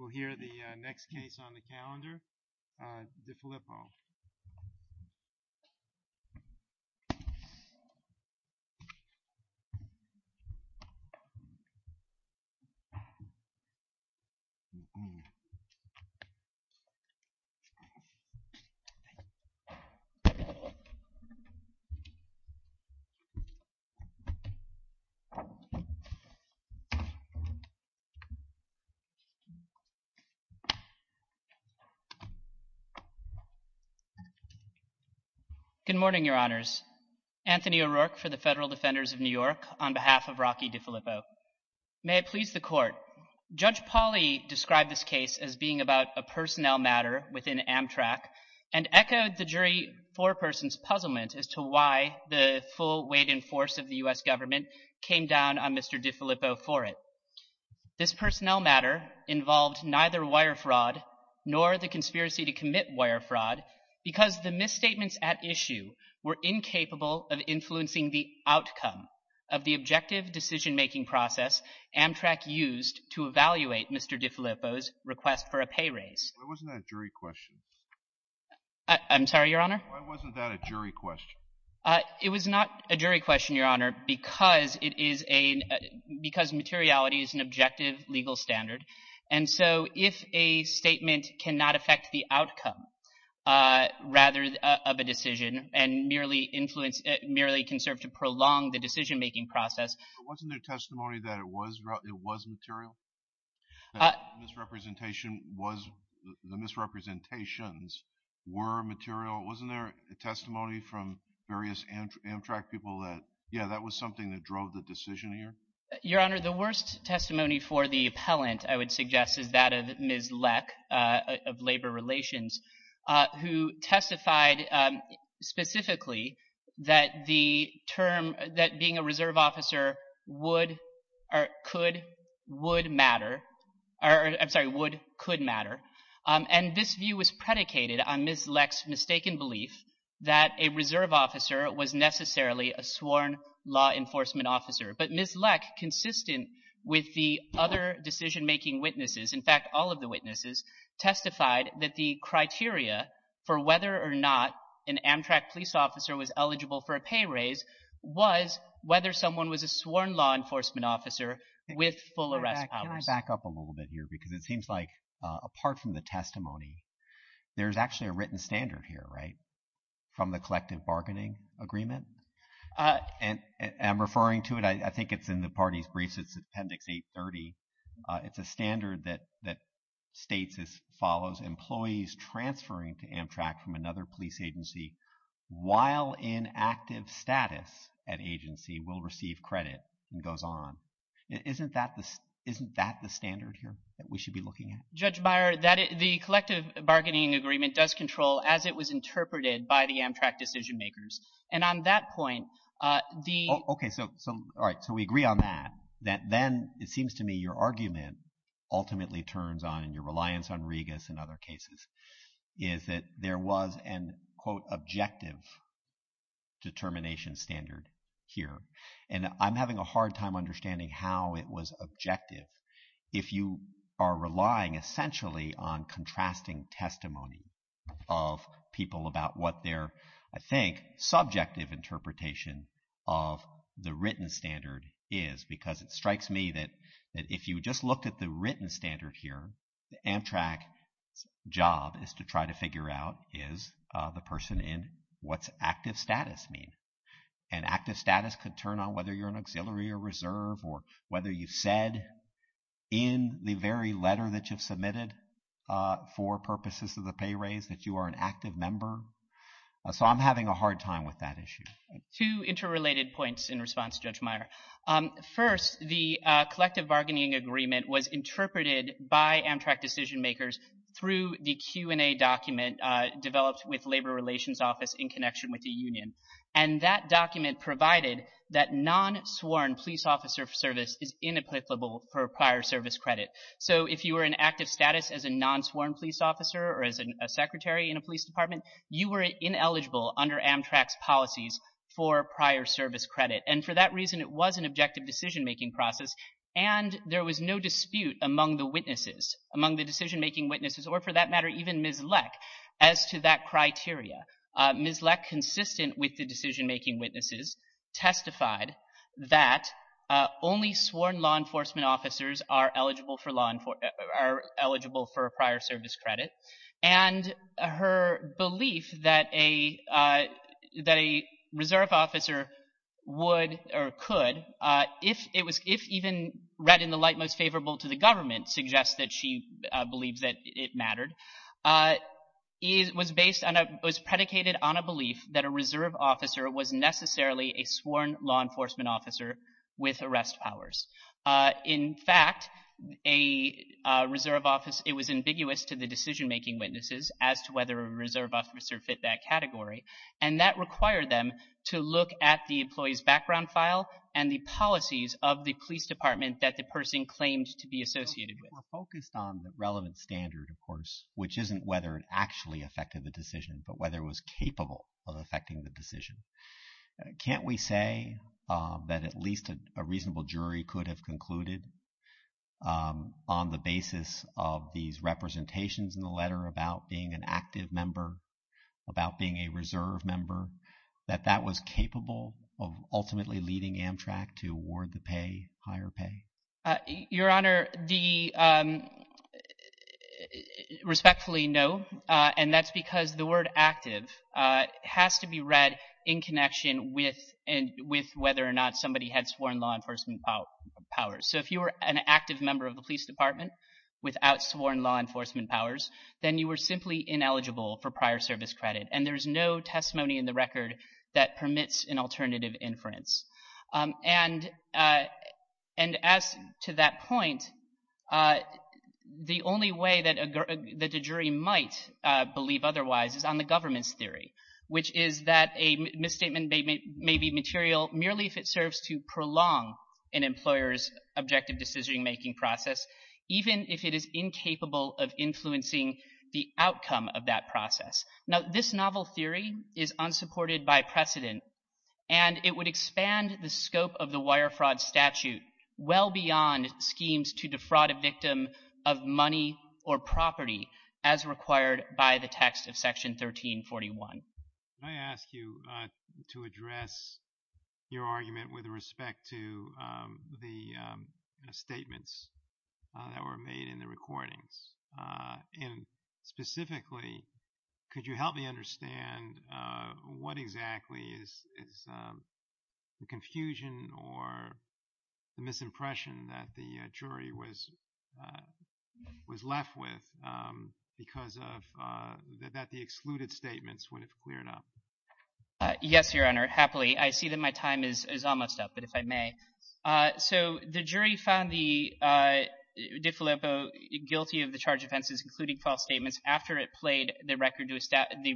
We'll hear the next case on the calendar, DeFilippo. Good morning, Your Honors. Anthony O'Rourke for the Federal Defenders of New York on behalf of Rocky DeFilippo. May it please the Court. Judge Pauley described this case as being about a personnel matter within Amtrak and echoed the jury foreperson's puzzlement as to why the full weight and force of the U.S. government came down on Mr. DeFilippo for it. This personnel matter involved neither wire fraud nor the conspiracy to commit wire fraud because the misstatements at issue were incapable of influencing the outcome of the objective decision-making process Amtrak used to evaluate Mr. DeFilippo's request for a pay raise. Why wasn't that a jury question? I'm sorry, Your Honor? Why wasn't that a jury question? It was not a jury question, Your Honor, because materiality is an objective legal standard. And so if a statement cannot affect the outcome rather of a decision and merely can serve to prolong the decision-making process— Wasn't there testimony that it was material, that the misrepresentations were material? Wasn't there testimony from various Amtrak people that, yeah, that was something that drove the decision here? Your Honor, the worst testimony for the appellant, I would suggest, is that of Ms. Leck of Labor Relations who testified specifically that the term, that being a reserve officer would or could, would matter— I'm sorry, would, could matter. And this view was predicated on Ms. Leck's mistaken belief that a reserve officer was necessarily a sworn law enforcement officer. But Ms. Leck, consistent with the other decision-making witnesses— in fact, all of the witnesses— testified that the criteria for whether or not an Amtrak police officer was eligible for a pay raise was whether someone was a sworn law enforcement officer with full arrest powers. Can I back up a little bit here? Because it seems like, apart from the testimony, there's actually a written standard here, right? From the collective bargaining agreement? And I'm referring to it, I think it's in the party's briefs, it's Appendix 830. It's a standard that states as follows, employees transferring to Amtrak from another police agency while in active status at agency will receive credit and goes on. Isn't that the standard here that we should be looking at? Judge Meyer, the collective bargaining agreement does control, as it was interpreted by the Amtrak decision-makers. And on that point, the— Okay, so, all right, so we agree on that. Then it seems to me your argument ultimately turns on, and your reliance on Regas and other cases, is that there was an, quote, objective determination standard here. And I'm having a hard time understanding how it was objective if you are relying essentially on contrasting testimony of people about what their, I think, subjective interpretation of the written standard is. Because it strikes me that if you just looked at the written standard here, Amtrak's job is to try to figure out, is the person in, what's active status mean? And active status could turn on whether you're an auxiliary or reserve or whether you said in the very letter that you've submitted for purposes of the pay raise that you are an active member. So I'm having a hard time with that issue. Two interrelated points in response to Judge Meyer. First, the collective bargaining agreement was interpreted by Amtrak decision-makers through the Q&A document developed with Labor Relations Office in connection with the union. And that document provided that non-sworn police officer service is inapplicable for prior service credit. So if you were in active status as a non-sworn police officer or as a secretary in a police department, you were ineligible under Amtrak's policies for prior service credit. And for that reason, it was an objective decision-making process, and there was no dispute among the witnesses, among the decision-making witnesses, or for that matter, even Ms. Leck, as to that criteria. Ms. Leck, consistent with the decision-making witnesses, testified that only sworn law enforcement officers are eligible for prior service credit. And her belief that a reserve officer would or could, if even read in the light most favorable to the government, suggests that she believes that it mattered, was predicated on a belief that a reserve officer was necessarily a sworn law enforcement officer with arrest powers. In fact, it was ambiguous to the decision-making witnesses as to whether a reserve officer fit that category, and that required them to look at the employee's background file and the policies of the police department that the person claimed to be associated with. We're focused on the relevant standard, of course, which isn't whether it actually affected the decision, but whether it was capable of affecting the decision. Can't we say that at least a reasonable jury could have concluded, on the basis of these representations in the letter about being an active member, about being a reserve member, that that was capable of ultimately leading Amtrak to award the pay, higher pay? Your Honor, the respectfully no, and that's because the word active has to be read in connection with whether or not somebody had sworn law enforcement powers. So if you were an active member of the police department without sworn law enforcement powers, then you were simply ineligible for prior service credit, and there's no testimony in the record that permits an alternative inference. And as to that point, the only way that a jury might believe otherwise is on the government's theory, which is that a misstatement may be material merely if it serves to prolong an employer's objective decision-making process, even if it is incapable of influencing the outcome of that process. Now, this novel theory is unsupported by precedent, and it would expand the scope of the wire fraud statute well beyond schemes to defraud a victim of money or property, as required by the text of Section 1341. Can I ask you to address your argument with respect to the statements that were made in the recordings? And specifically, could you help me understand what exactly is the confusion or the misimpression that the jury was left with because of that the excluded statements would have cleared up? Yes, Your Honor, happily. I see that my time is almost up, but if I may. So the jury found DeFilippo guilty of the charged offenses, including false statements, after it played the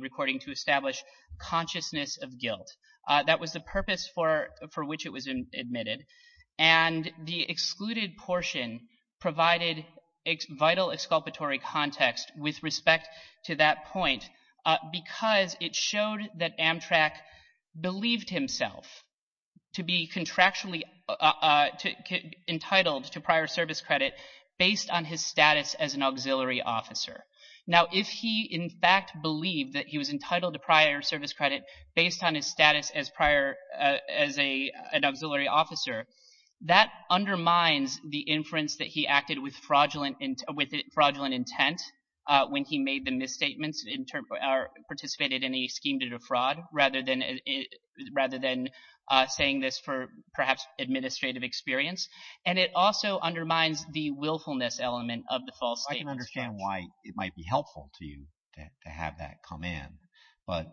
recording to establish consciousness of guilt. That was the purpose for which it was admitted. And the excluded portion provided vital exculpatory context with respect to that point because it showed that Amtrak believed himself to be contractually entitled to prior service credit based on his status as an auxiliary officer. Now, if he in fact believed that he was entitled to prior service credit based on his status as an auxiliary officer, that undermines the inference that he acted with fraudulent intent when he made the misstatements or participated in a scheme to defraud, rather than saying this for perhaps administrative experience. And it also undermines the willfulness element of the false statements. I can understand why it might be helpful to you to have that come in, but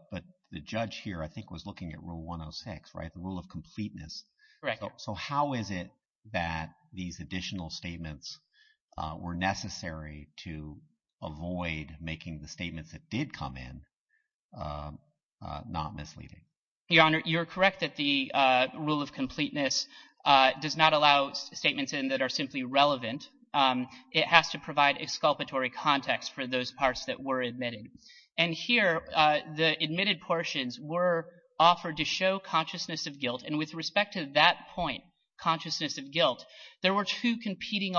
the judge here I think was looking at Rule 106, the rule of completeness. Correct. So how is it that these additional statements were necessary to avoid making the statements that did come in not misleading? Your Honor, you're correct that the rule of completeness does not allow statements that are simply relevant. It has to provide exculpatory context for those parts that were admitted. And here the admitted portions were offered to show consciousness of guilt, and with respect to that point, consciousness of guilt, there were two competing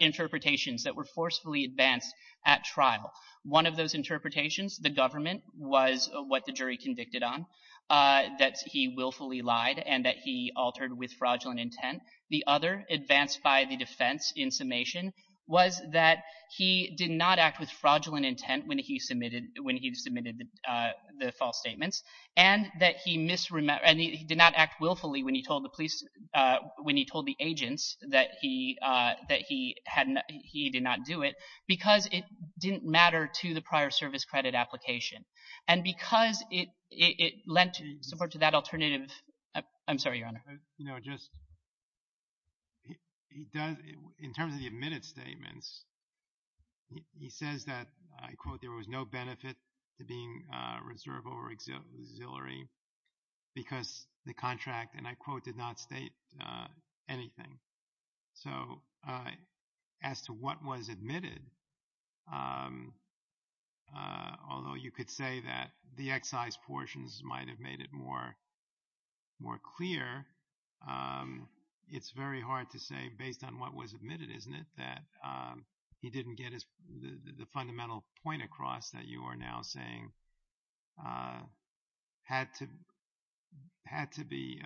interpretations that were forcefully advanced at trial. One of those interpretations, the government, was what the jury convicted on, that he willfully lied and that he altered with fraudulent intent. The other, advanced by the defense in summation, was that he did not act with fraudulent intent when he submitted the false statements and that he did not act willfully when he told the agents that he did not do it because it didn't matter to the prior service credit application and because it lent support to that alternative. I'm sorry, Your Honor. In terms of the admitted statements, he says that, I quote, there was no benefit to being reserve or auxiliary because the contract, and I quote, did not state anything. So as to what was admitted, although you could say that the excise portions might have made it more clear, it's very hard to say based on what was admitted, isn't it, that he didn't get the fundamental point across that you are now saying had to be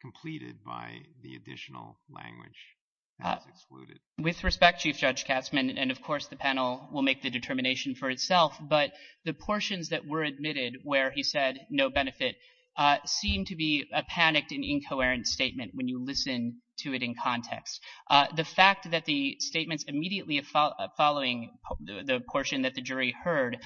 completed by the additional language that was excluded? With respect, Chief Judge Katzmann, and of course the panel will make the determination for itself, but the portions that were admitted where he said no benefit seem to be a panicked and incoherent statement when you listen to it in context. The fact that the statements immediately following the portion that the jury heard,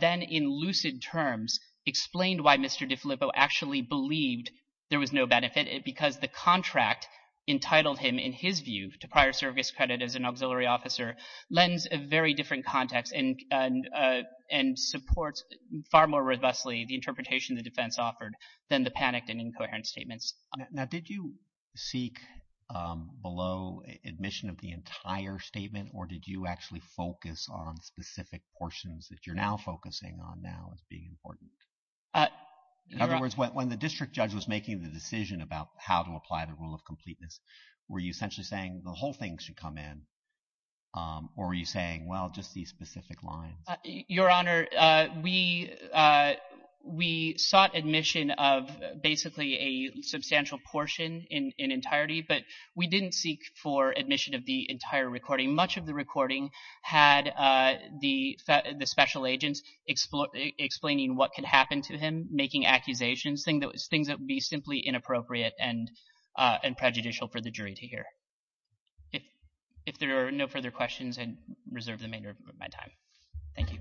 then in lucid terms explained why Mr. DeFilippo actually believed there was no benefit because the contract entitled him, in his view, to prior service credit as an auxiliary officer, lends a very different context and supports far more robustly the interpretation the defense offered than the panicked and incoherent statements. Now, did you seek below admission of the entire statement, or did you actually focus on specific portions that you're now focusing on now as being important? In other words, when the district judge was making the decision about how to apply the rule of completeness, were you essentially saying the whole thing should come in, or were you saying, well, just these specific lines? Your Honor, we sought admission of basically a substantial portion in entirety, but we didn't seek for admission of the entire recording. Much of the recording had the special agents explaining what could happen to him, making accusations, things that would be simply inappropriate and prejudicial for the jury to hear. If there are no further questions, I reserve the remainder of my time. Thank you.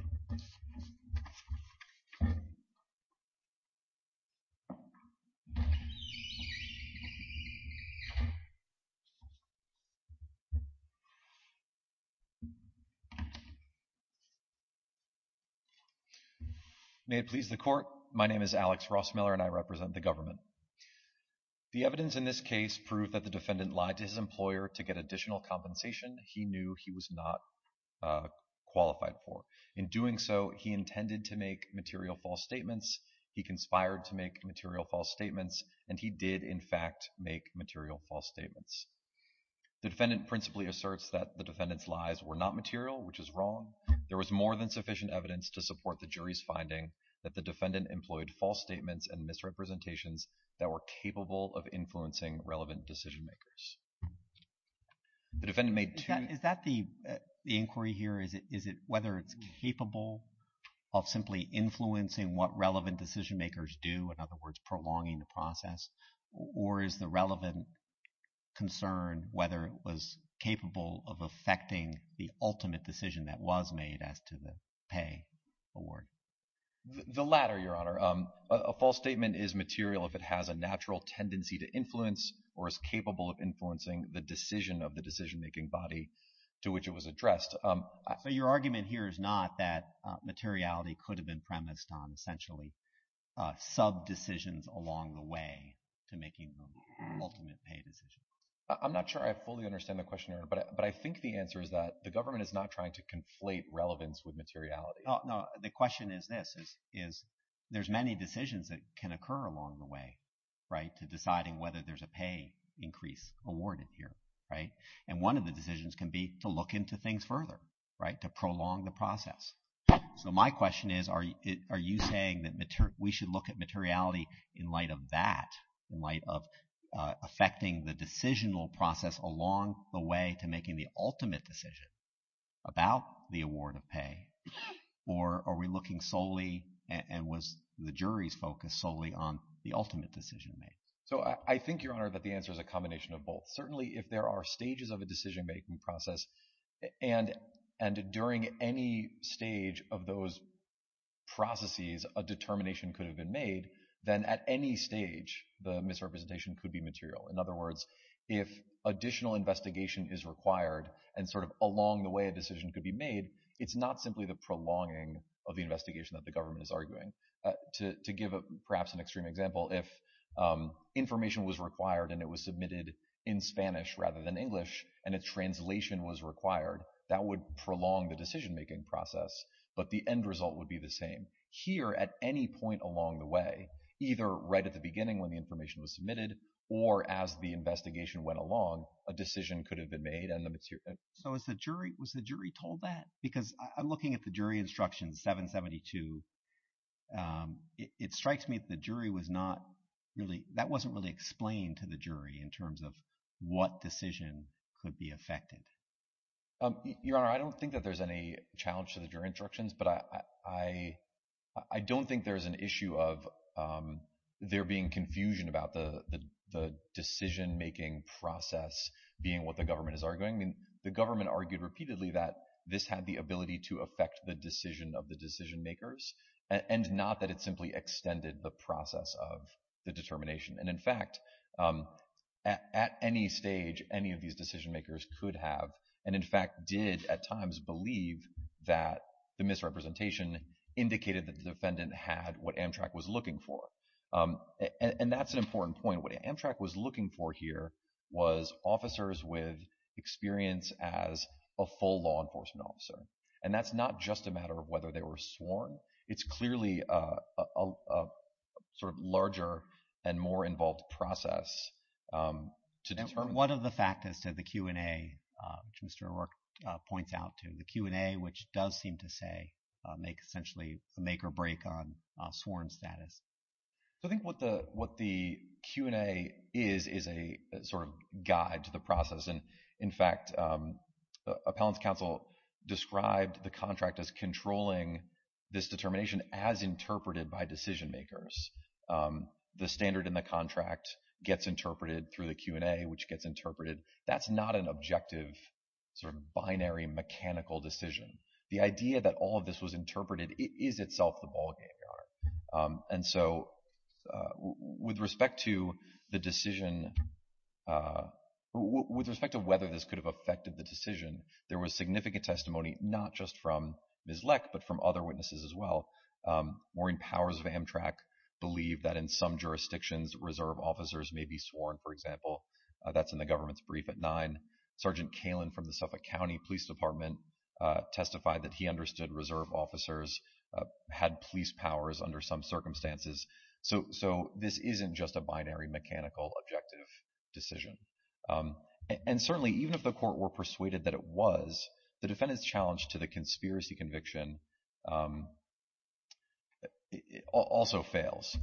May it please the Court, my name is Alex Ross-Miller, and I represent the government. The evidence in this case proved that the defendant lied to his employer to get additional compensation he knew he was not qualified for. In doing so, he intended to make material false statements, he conspired to make material false statements, and he did, in fact, make material false statements. The defendant principally asserts that the defendant's lies were not material, which is wrong. That the defendant employed false statements and misrepresentations that were capable of influencing relevant decision-makers. Is that the inquiry here? Is it whether it's capable of simply influencing what relevant decision-makers do, in other words, prolonging the process? Or is the relevant concern whether it was capable of affecting the ultimate decision that was made as to the pay award? The latter, Your Honor. A false statement is material if it has a natural tendency to influence or is capable of influencing the decision of the decision-making body to which it was addressed. But your argument here is not that materiality could have been premised on essentially sub-decisions along the way to making the ultimate pay decision. I'm not sure I fully understand the question, Your Honor, but I think the answer is that the government is not trying to conflate relevance with materiality. No, the question is this, is there's many decisions that can occur along the way, right, to deciding whether there's a pay increase awarded here, right? And one of the decisions can be to look into things further, right, to prolong the process. So my question is, are you saying that we should look at materiality in light of that, in light of affecting the decisional process along the way to making the ultimate decision about the award of pay, or are we looking solely and was the jury's focus solely on the ultimate decision made? So I think, Your Honor, that the answer is a combination of both. Certainly if there are stages of a decision-making process and during any stage of those processes a determination could have been made, then at any stage the misrepresentation could be material. In other words, if additional investigation is required and sort of along the way a decision could be made, it's not simply the prolonging of the investigation that the government is arguing. To give perhaps an extreme example, if information was required and it was submitted in Spanish rather than English and a translation was required, that would prolong the decision-making process, but the end result would be the same. Here at any point along the way, either right at the beginning when the information was submitted or as the investigation went along, a decision could have been made and the material— So was the jury told that? Because I'm looking at the jury instructions, 772. It strikes me that the jury was not really—that wasn't really explained to the jury in terms of what decision could be affected. Your Honor, I don't think that there's any challenge to the jury instructions, but I don't think there's an issue of there being confusion about the decision-making process being what the government is arguing. The government argued repeatedly that this had the ability to affect the decision of the decision-makers and not that it simply extended the process of the determination. And in fact, at any stage, any of these decision-makers could have and in fact did at times believe that the misrepresentation indicated that the defendant had what Amtrak was looking for. And that's an important point. What Amtrak was looking for here was officers with experience as a full law enforcement officer. And that's not just a matter of whether they were sworn. It's clearly a sort of larger and more involved process to determine— And what are the factors to the Q&A, which Mr. O'Rourke points out to? The Q&A, which does seem to say—make essentially a make or break on sworn status. I think what the Q&A is is a sort of guide to the process. And in fact, Appellant's counsel described the contract as controlling this determination as interpreted by decision-makers. The standard in the contract gets interpreted through the Q&A, which gets interpreted. That's not an objective sort of binary mechanical decision. The idea that all of this was interpreted is itself the ballgame, Your Honor. And so with respect to the decision—with respect to whether this could have affected the decision, there was significant testimony not just from Ms. Leck but from other witnesses as well. Maureen Powers of Amtrak believed that in some jurisdictions reserve officers may be sworn, for example. That's in the government's brief at 9. Sergeant Kalin from the Suffolk County Police Department testified that he understood reserve officers had police powers under some circumstances. So this isn't just a binary mechanical objective decision. And certainly even if the court were persuaded that it was, the defendant's challenge to the conspiracy conviction also fails.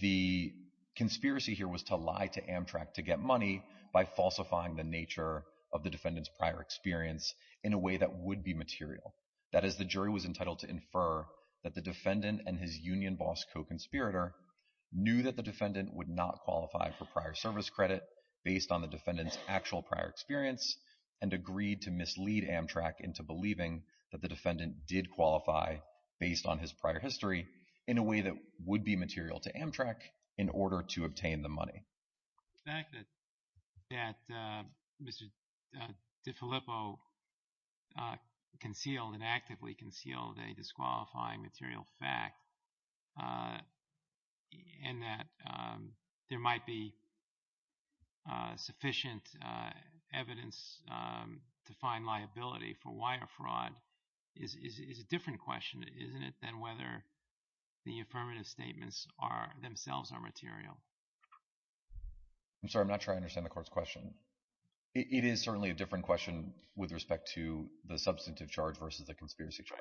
The conspiracy here was to lie to Amtrak to get money by falsifying the nature of the defendant's prior experience in a way that would be material. That is, the jury was entitled to infer that the defendant and his union boss co-conspirator knew that the defendant would not qualify for prior service credit based on the defendant's actual prior experience and agreed to mislead Amtrak into believing that the defendant did qualify based on his prior history in a way that would be material to Amtrak in order to obtain the money. The fact that Mr. DiFilippo concealed and actively concealed a disqualifying material fact and that there might be sufficient evidence to find liability for wire fraud is a different question, isn't it, than whether the affirmative statements themselves are material? I'm sorry, I'm not sure I understand the court's question. It is certainly a different question with respect to the substantive charge versus the conspiracy charge.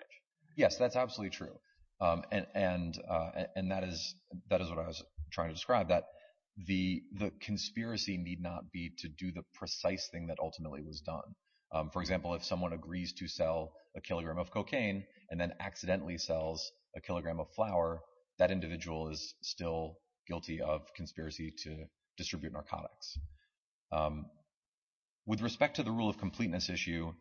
Yes, that's absolutely true. And that is what I was trying to describe, that the conspiracy need not be to do the precise thing that ultimately was done. For example, if someone agrees to sell a kilogram of cocaine and then accidentally sells a kilogram of flour, that individual is still guilty of conspiracy to distribute narcotics. With respect to the rule of completeness issue,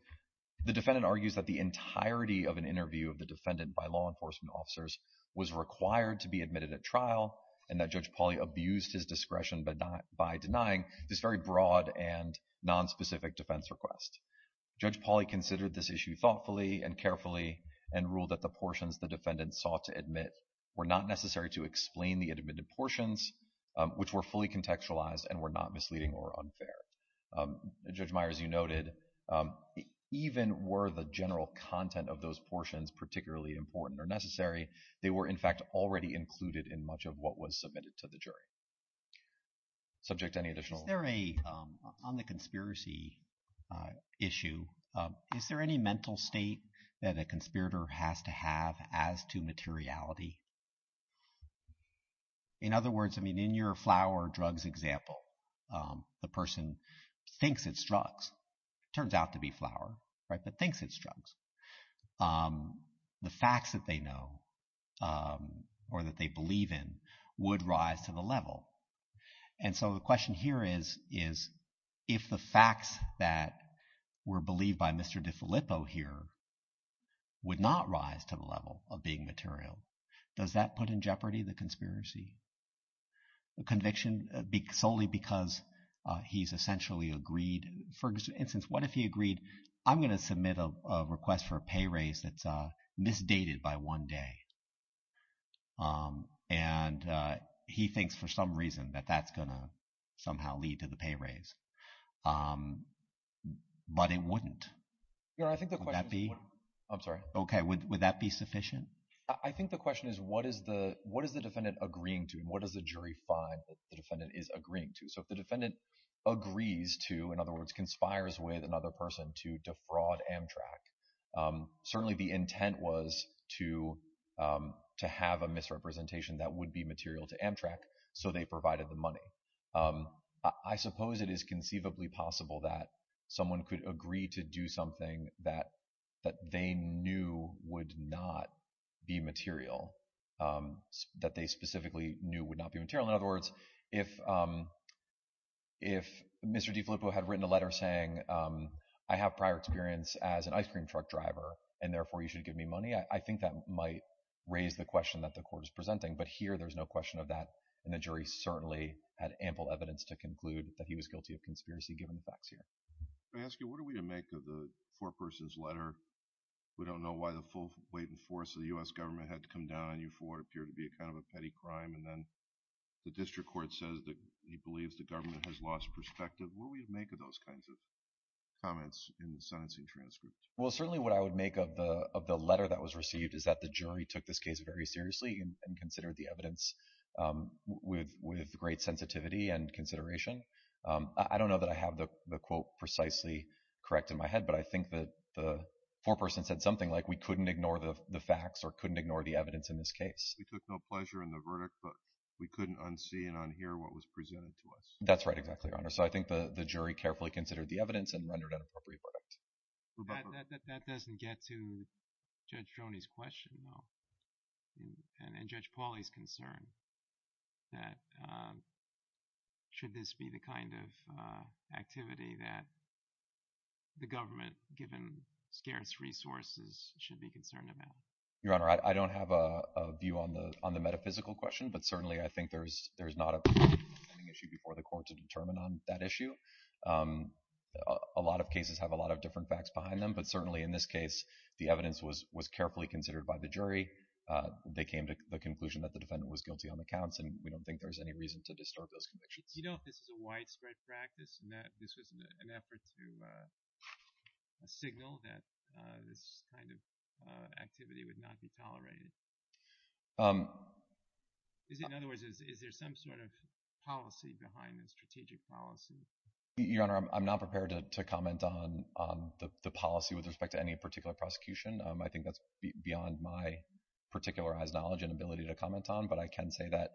the defendant argues that the entirety of an interview of the defendant by law enforcement officers was required to be admitted at trial and that Judge Pauly abused his discretion by denying this very broad and nonspecific defense request. Judge Pauly considered this issue thoughtfully and carefully and ruled that the portions the defendant sought to admit were not necessary to explain the admitted portions, which were fully contextualized and were not misleading or unfair. Judge Myers, you noted, even were the general content of those portions particularly important or necessary, they were in fact already included in much of what was submitted to the jury. On the conspiracy issue, is there any mental state that a conspirator has to have as to materiality? In other words, in your flour drugs example, the person thinks it's drugs, turns out to be flour, but thinks it's drugs. The facts that they know or that they believe in would rise to the level. And so the question here is, if the facts that were believed by Mr. DiFilippo here would not rise to the level of being material, does that put in jeopardy the conspiracy? The conviction solely because he's essentially agreed, for instance, what if he agreed, I'm going to submit a request for a pay raise that's misdated by one day. And he thinks for some reason that that's going to somehow lead to the pay raise. But it wouldn't. Would that be? I'm sorry. Okay. Would that be sufficient? I think the question is, what is the defendant agreeing to? What does the jury find that the defendant is agreeing to? So if the defendant agrees to, in other words, conspires with another person to defraud Amtrak, certainly the intent was to have a misrepresentation that would be material to Amtrak. So they provided the money. I suppose it is conceivably possible that someone could agree to do something that they knew would not be material, that they specifically knew would not be material. In other words, if Mr. DiFilippo had written a letter saying, I have prior experience as an ice cream truck driver, and therefore you should give me money, I think that might raise the question that the court is presenting. But here there's no question of that. And the jury certainly had ample evidence to conclude that he was guilty of conspiracy, given the facts here. May I ask you, what are we to make of the four-persons letter? We don't know why the full weight and force of the U.S. government had to come down on you before it appeared to be kind of a petty crime. And then the district court says that he believes the government has lost perspective. What do we make of those kinds of comments in the sentencing transcript? Well, certainly what I would make of the letter that was received is that the jury took this case very seriously and considered the evidence with great sensitivity and consideration. I don't know that I have the quote precisely correct in my head, but I think that the four-person said something like we couldn't ignore the facts or couldn't ignore the evidence in this case. We took no pleasure in the verdict, but we couldn't unsee and unhear what was presented to us. That's right, exactly, Your Honor. So I think the jury carefully considered the evidence and rendered an appropriate verdict. That doesn't get to Judge Joni's question, though, and Judge Pauly's concern that should this be the kind of activity that the government, given scarce resources, should be concerned about? Your Honor, I don't have a view on the metaphysical question, but certainly I think there's not a preeminent issue before the court to determine on that issue. A lot of cases have a lot of different facts behind them, but certainly in this case, the evidence was carefully considered by the jury. They came to the conclusion that the defendant was guilty on the counts, and we don't think there's any reason to distort those convictions. Do you know if this is a widespread practice and that this was an effort to signal that this kind of activity would not be tolerated? In other words, is there some sort of policy behind this, strategic policy? Your Honor, I'm not prepared to comment on the policy with respect to any particular prosecution. I think that's beyond my particularized knowledge and ability to comment on, but I can say that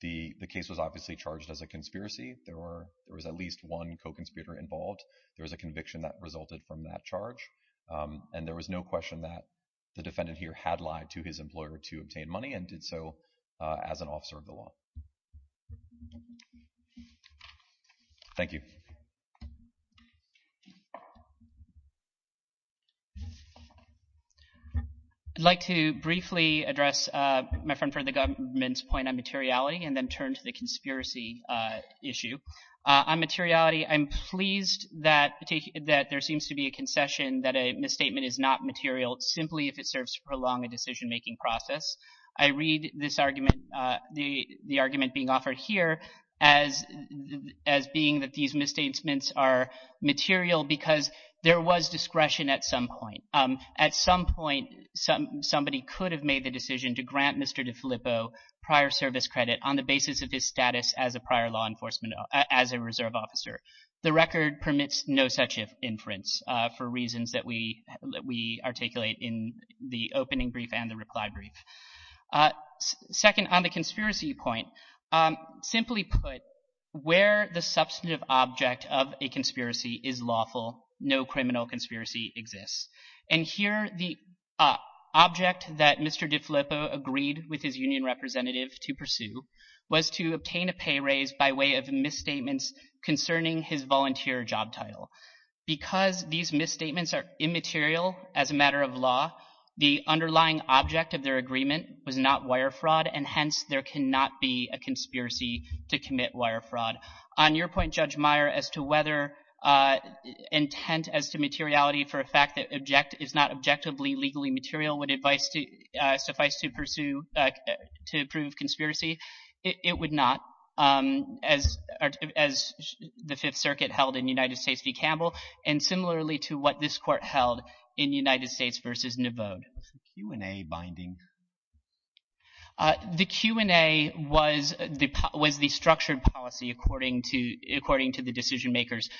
the case was obviously charged as a conspiracy. There was at least one co-conspirator involved. There was a conviction that resulted from that charge, and there was no question that the defendant here had lied to his employer to obtain money and did so as an officer of the law. Thank you. I'd like to briefly address my friend from the government's point on materiality and then turn to the conspiracy issue. On materiality, I'm pleased that there seems to be a concession that a misstatement is not material, simply if it serves to prolong a decision-making process. I read this argument, the argument being offered here as being that these misstatements are material because there was discretion at some point. At some point, somebody could have made the decision to grant Mr. DeFilippo prior service credit on the basis of his status as a prior law enforcement, as a reserve officer. The record permits no such inference for reasons that we articulate in the opening brief and the reply brief. Second, on the conspiracy point, simply put, where the substantive object of a conspiracy is lawful, no criminal conspiracy exists. And here the object that Mr. DeFilippo agreed with his union representative to pursue was to obtain a pay raise by way of misstatements concerning his volunteer job title. Because these misstatements are immaterial as a matter of law, the underlying object of their agreement was not wire fraud, and hence there cannot be a conspiracy to commit wire fraud. On your point, Judge Meyer, as to whether intent as to materiality for a fact that is not objectively legally material would suffice to pursue to prove conspiracy, it would not. As the Fifth Circuit held in United States v. Campbell, and similarly to what this court held in United States v. Nevode. Was the Q&A binding? The Q&A was the structured policy according to the decision makers.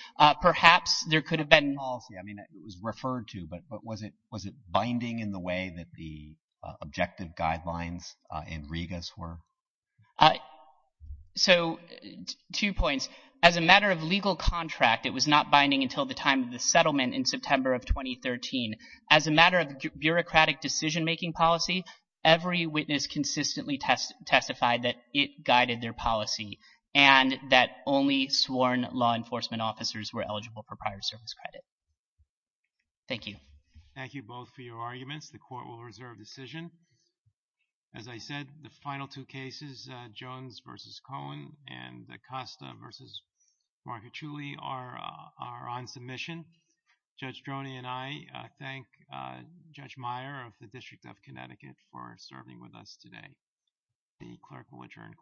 Perhaps there could have been policy. I mean it was referred to, but was it binding in the way that the objective guidelines in Regas were? So, two points. As a matter of legal contract, it was not binding until the time of the settlement in September of 2013. As a matter of bureaucratic decision making policy, every witness consistently testified that it guided their policy and that only sworn law enforcement officers were eligible for prior service credit. Thank you. Thank you both for your arguments. The court will reserve decision. As I said, the final two cases, Jones v. Cohen and Acosta v. Marchiulli are on submission. Judge Droney and I thank Judge Meyer of the District of Connecticut for serving with us today. The clerk will adjourn court.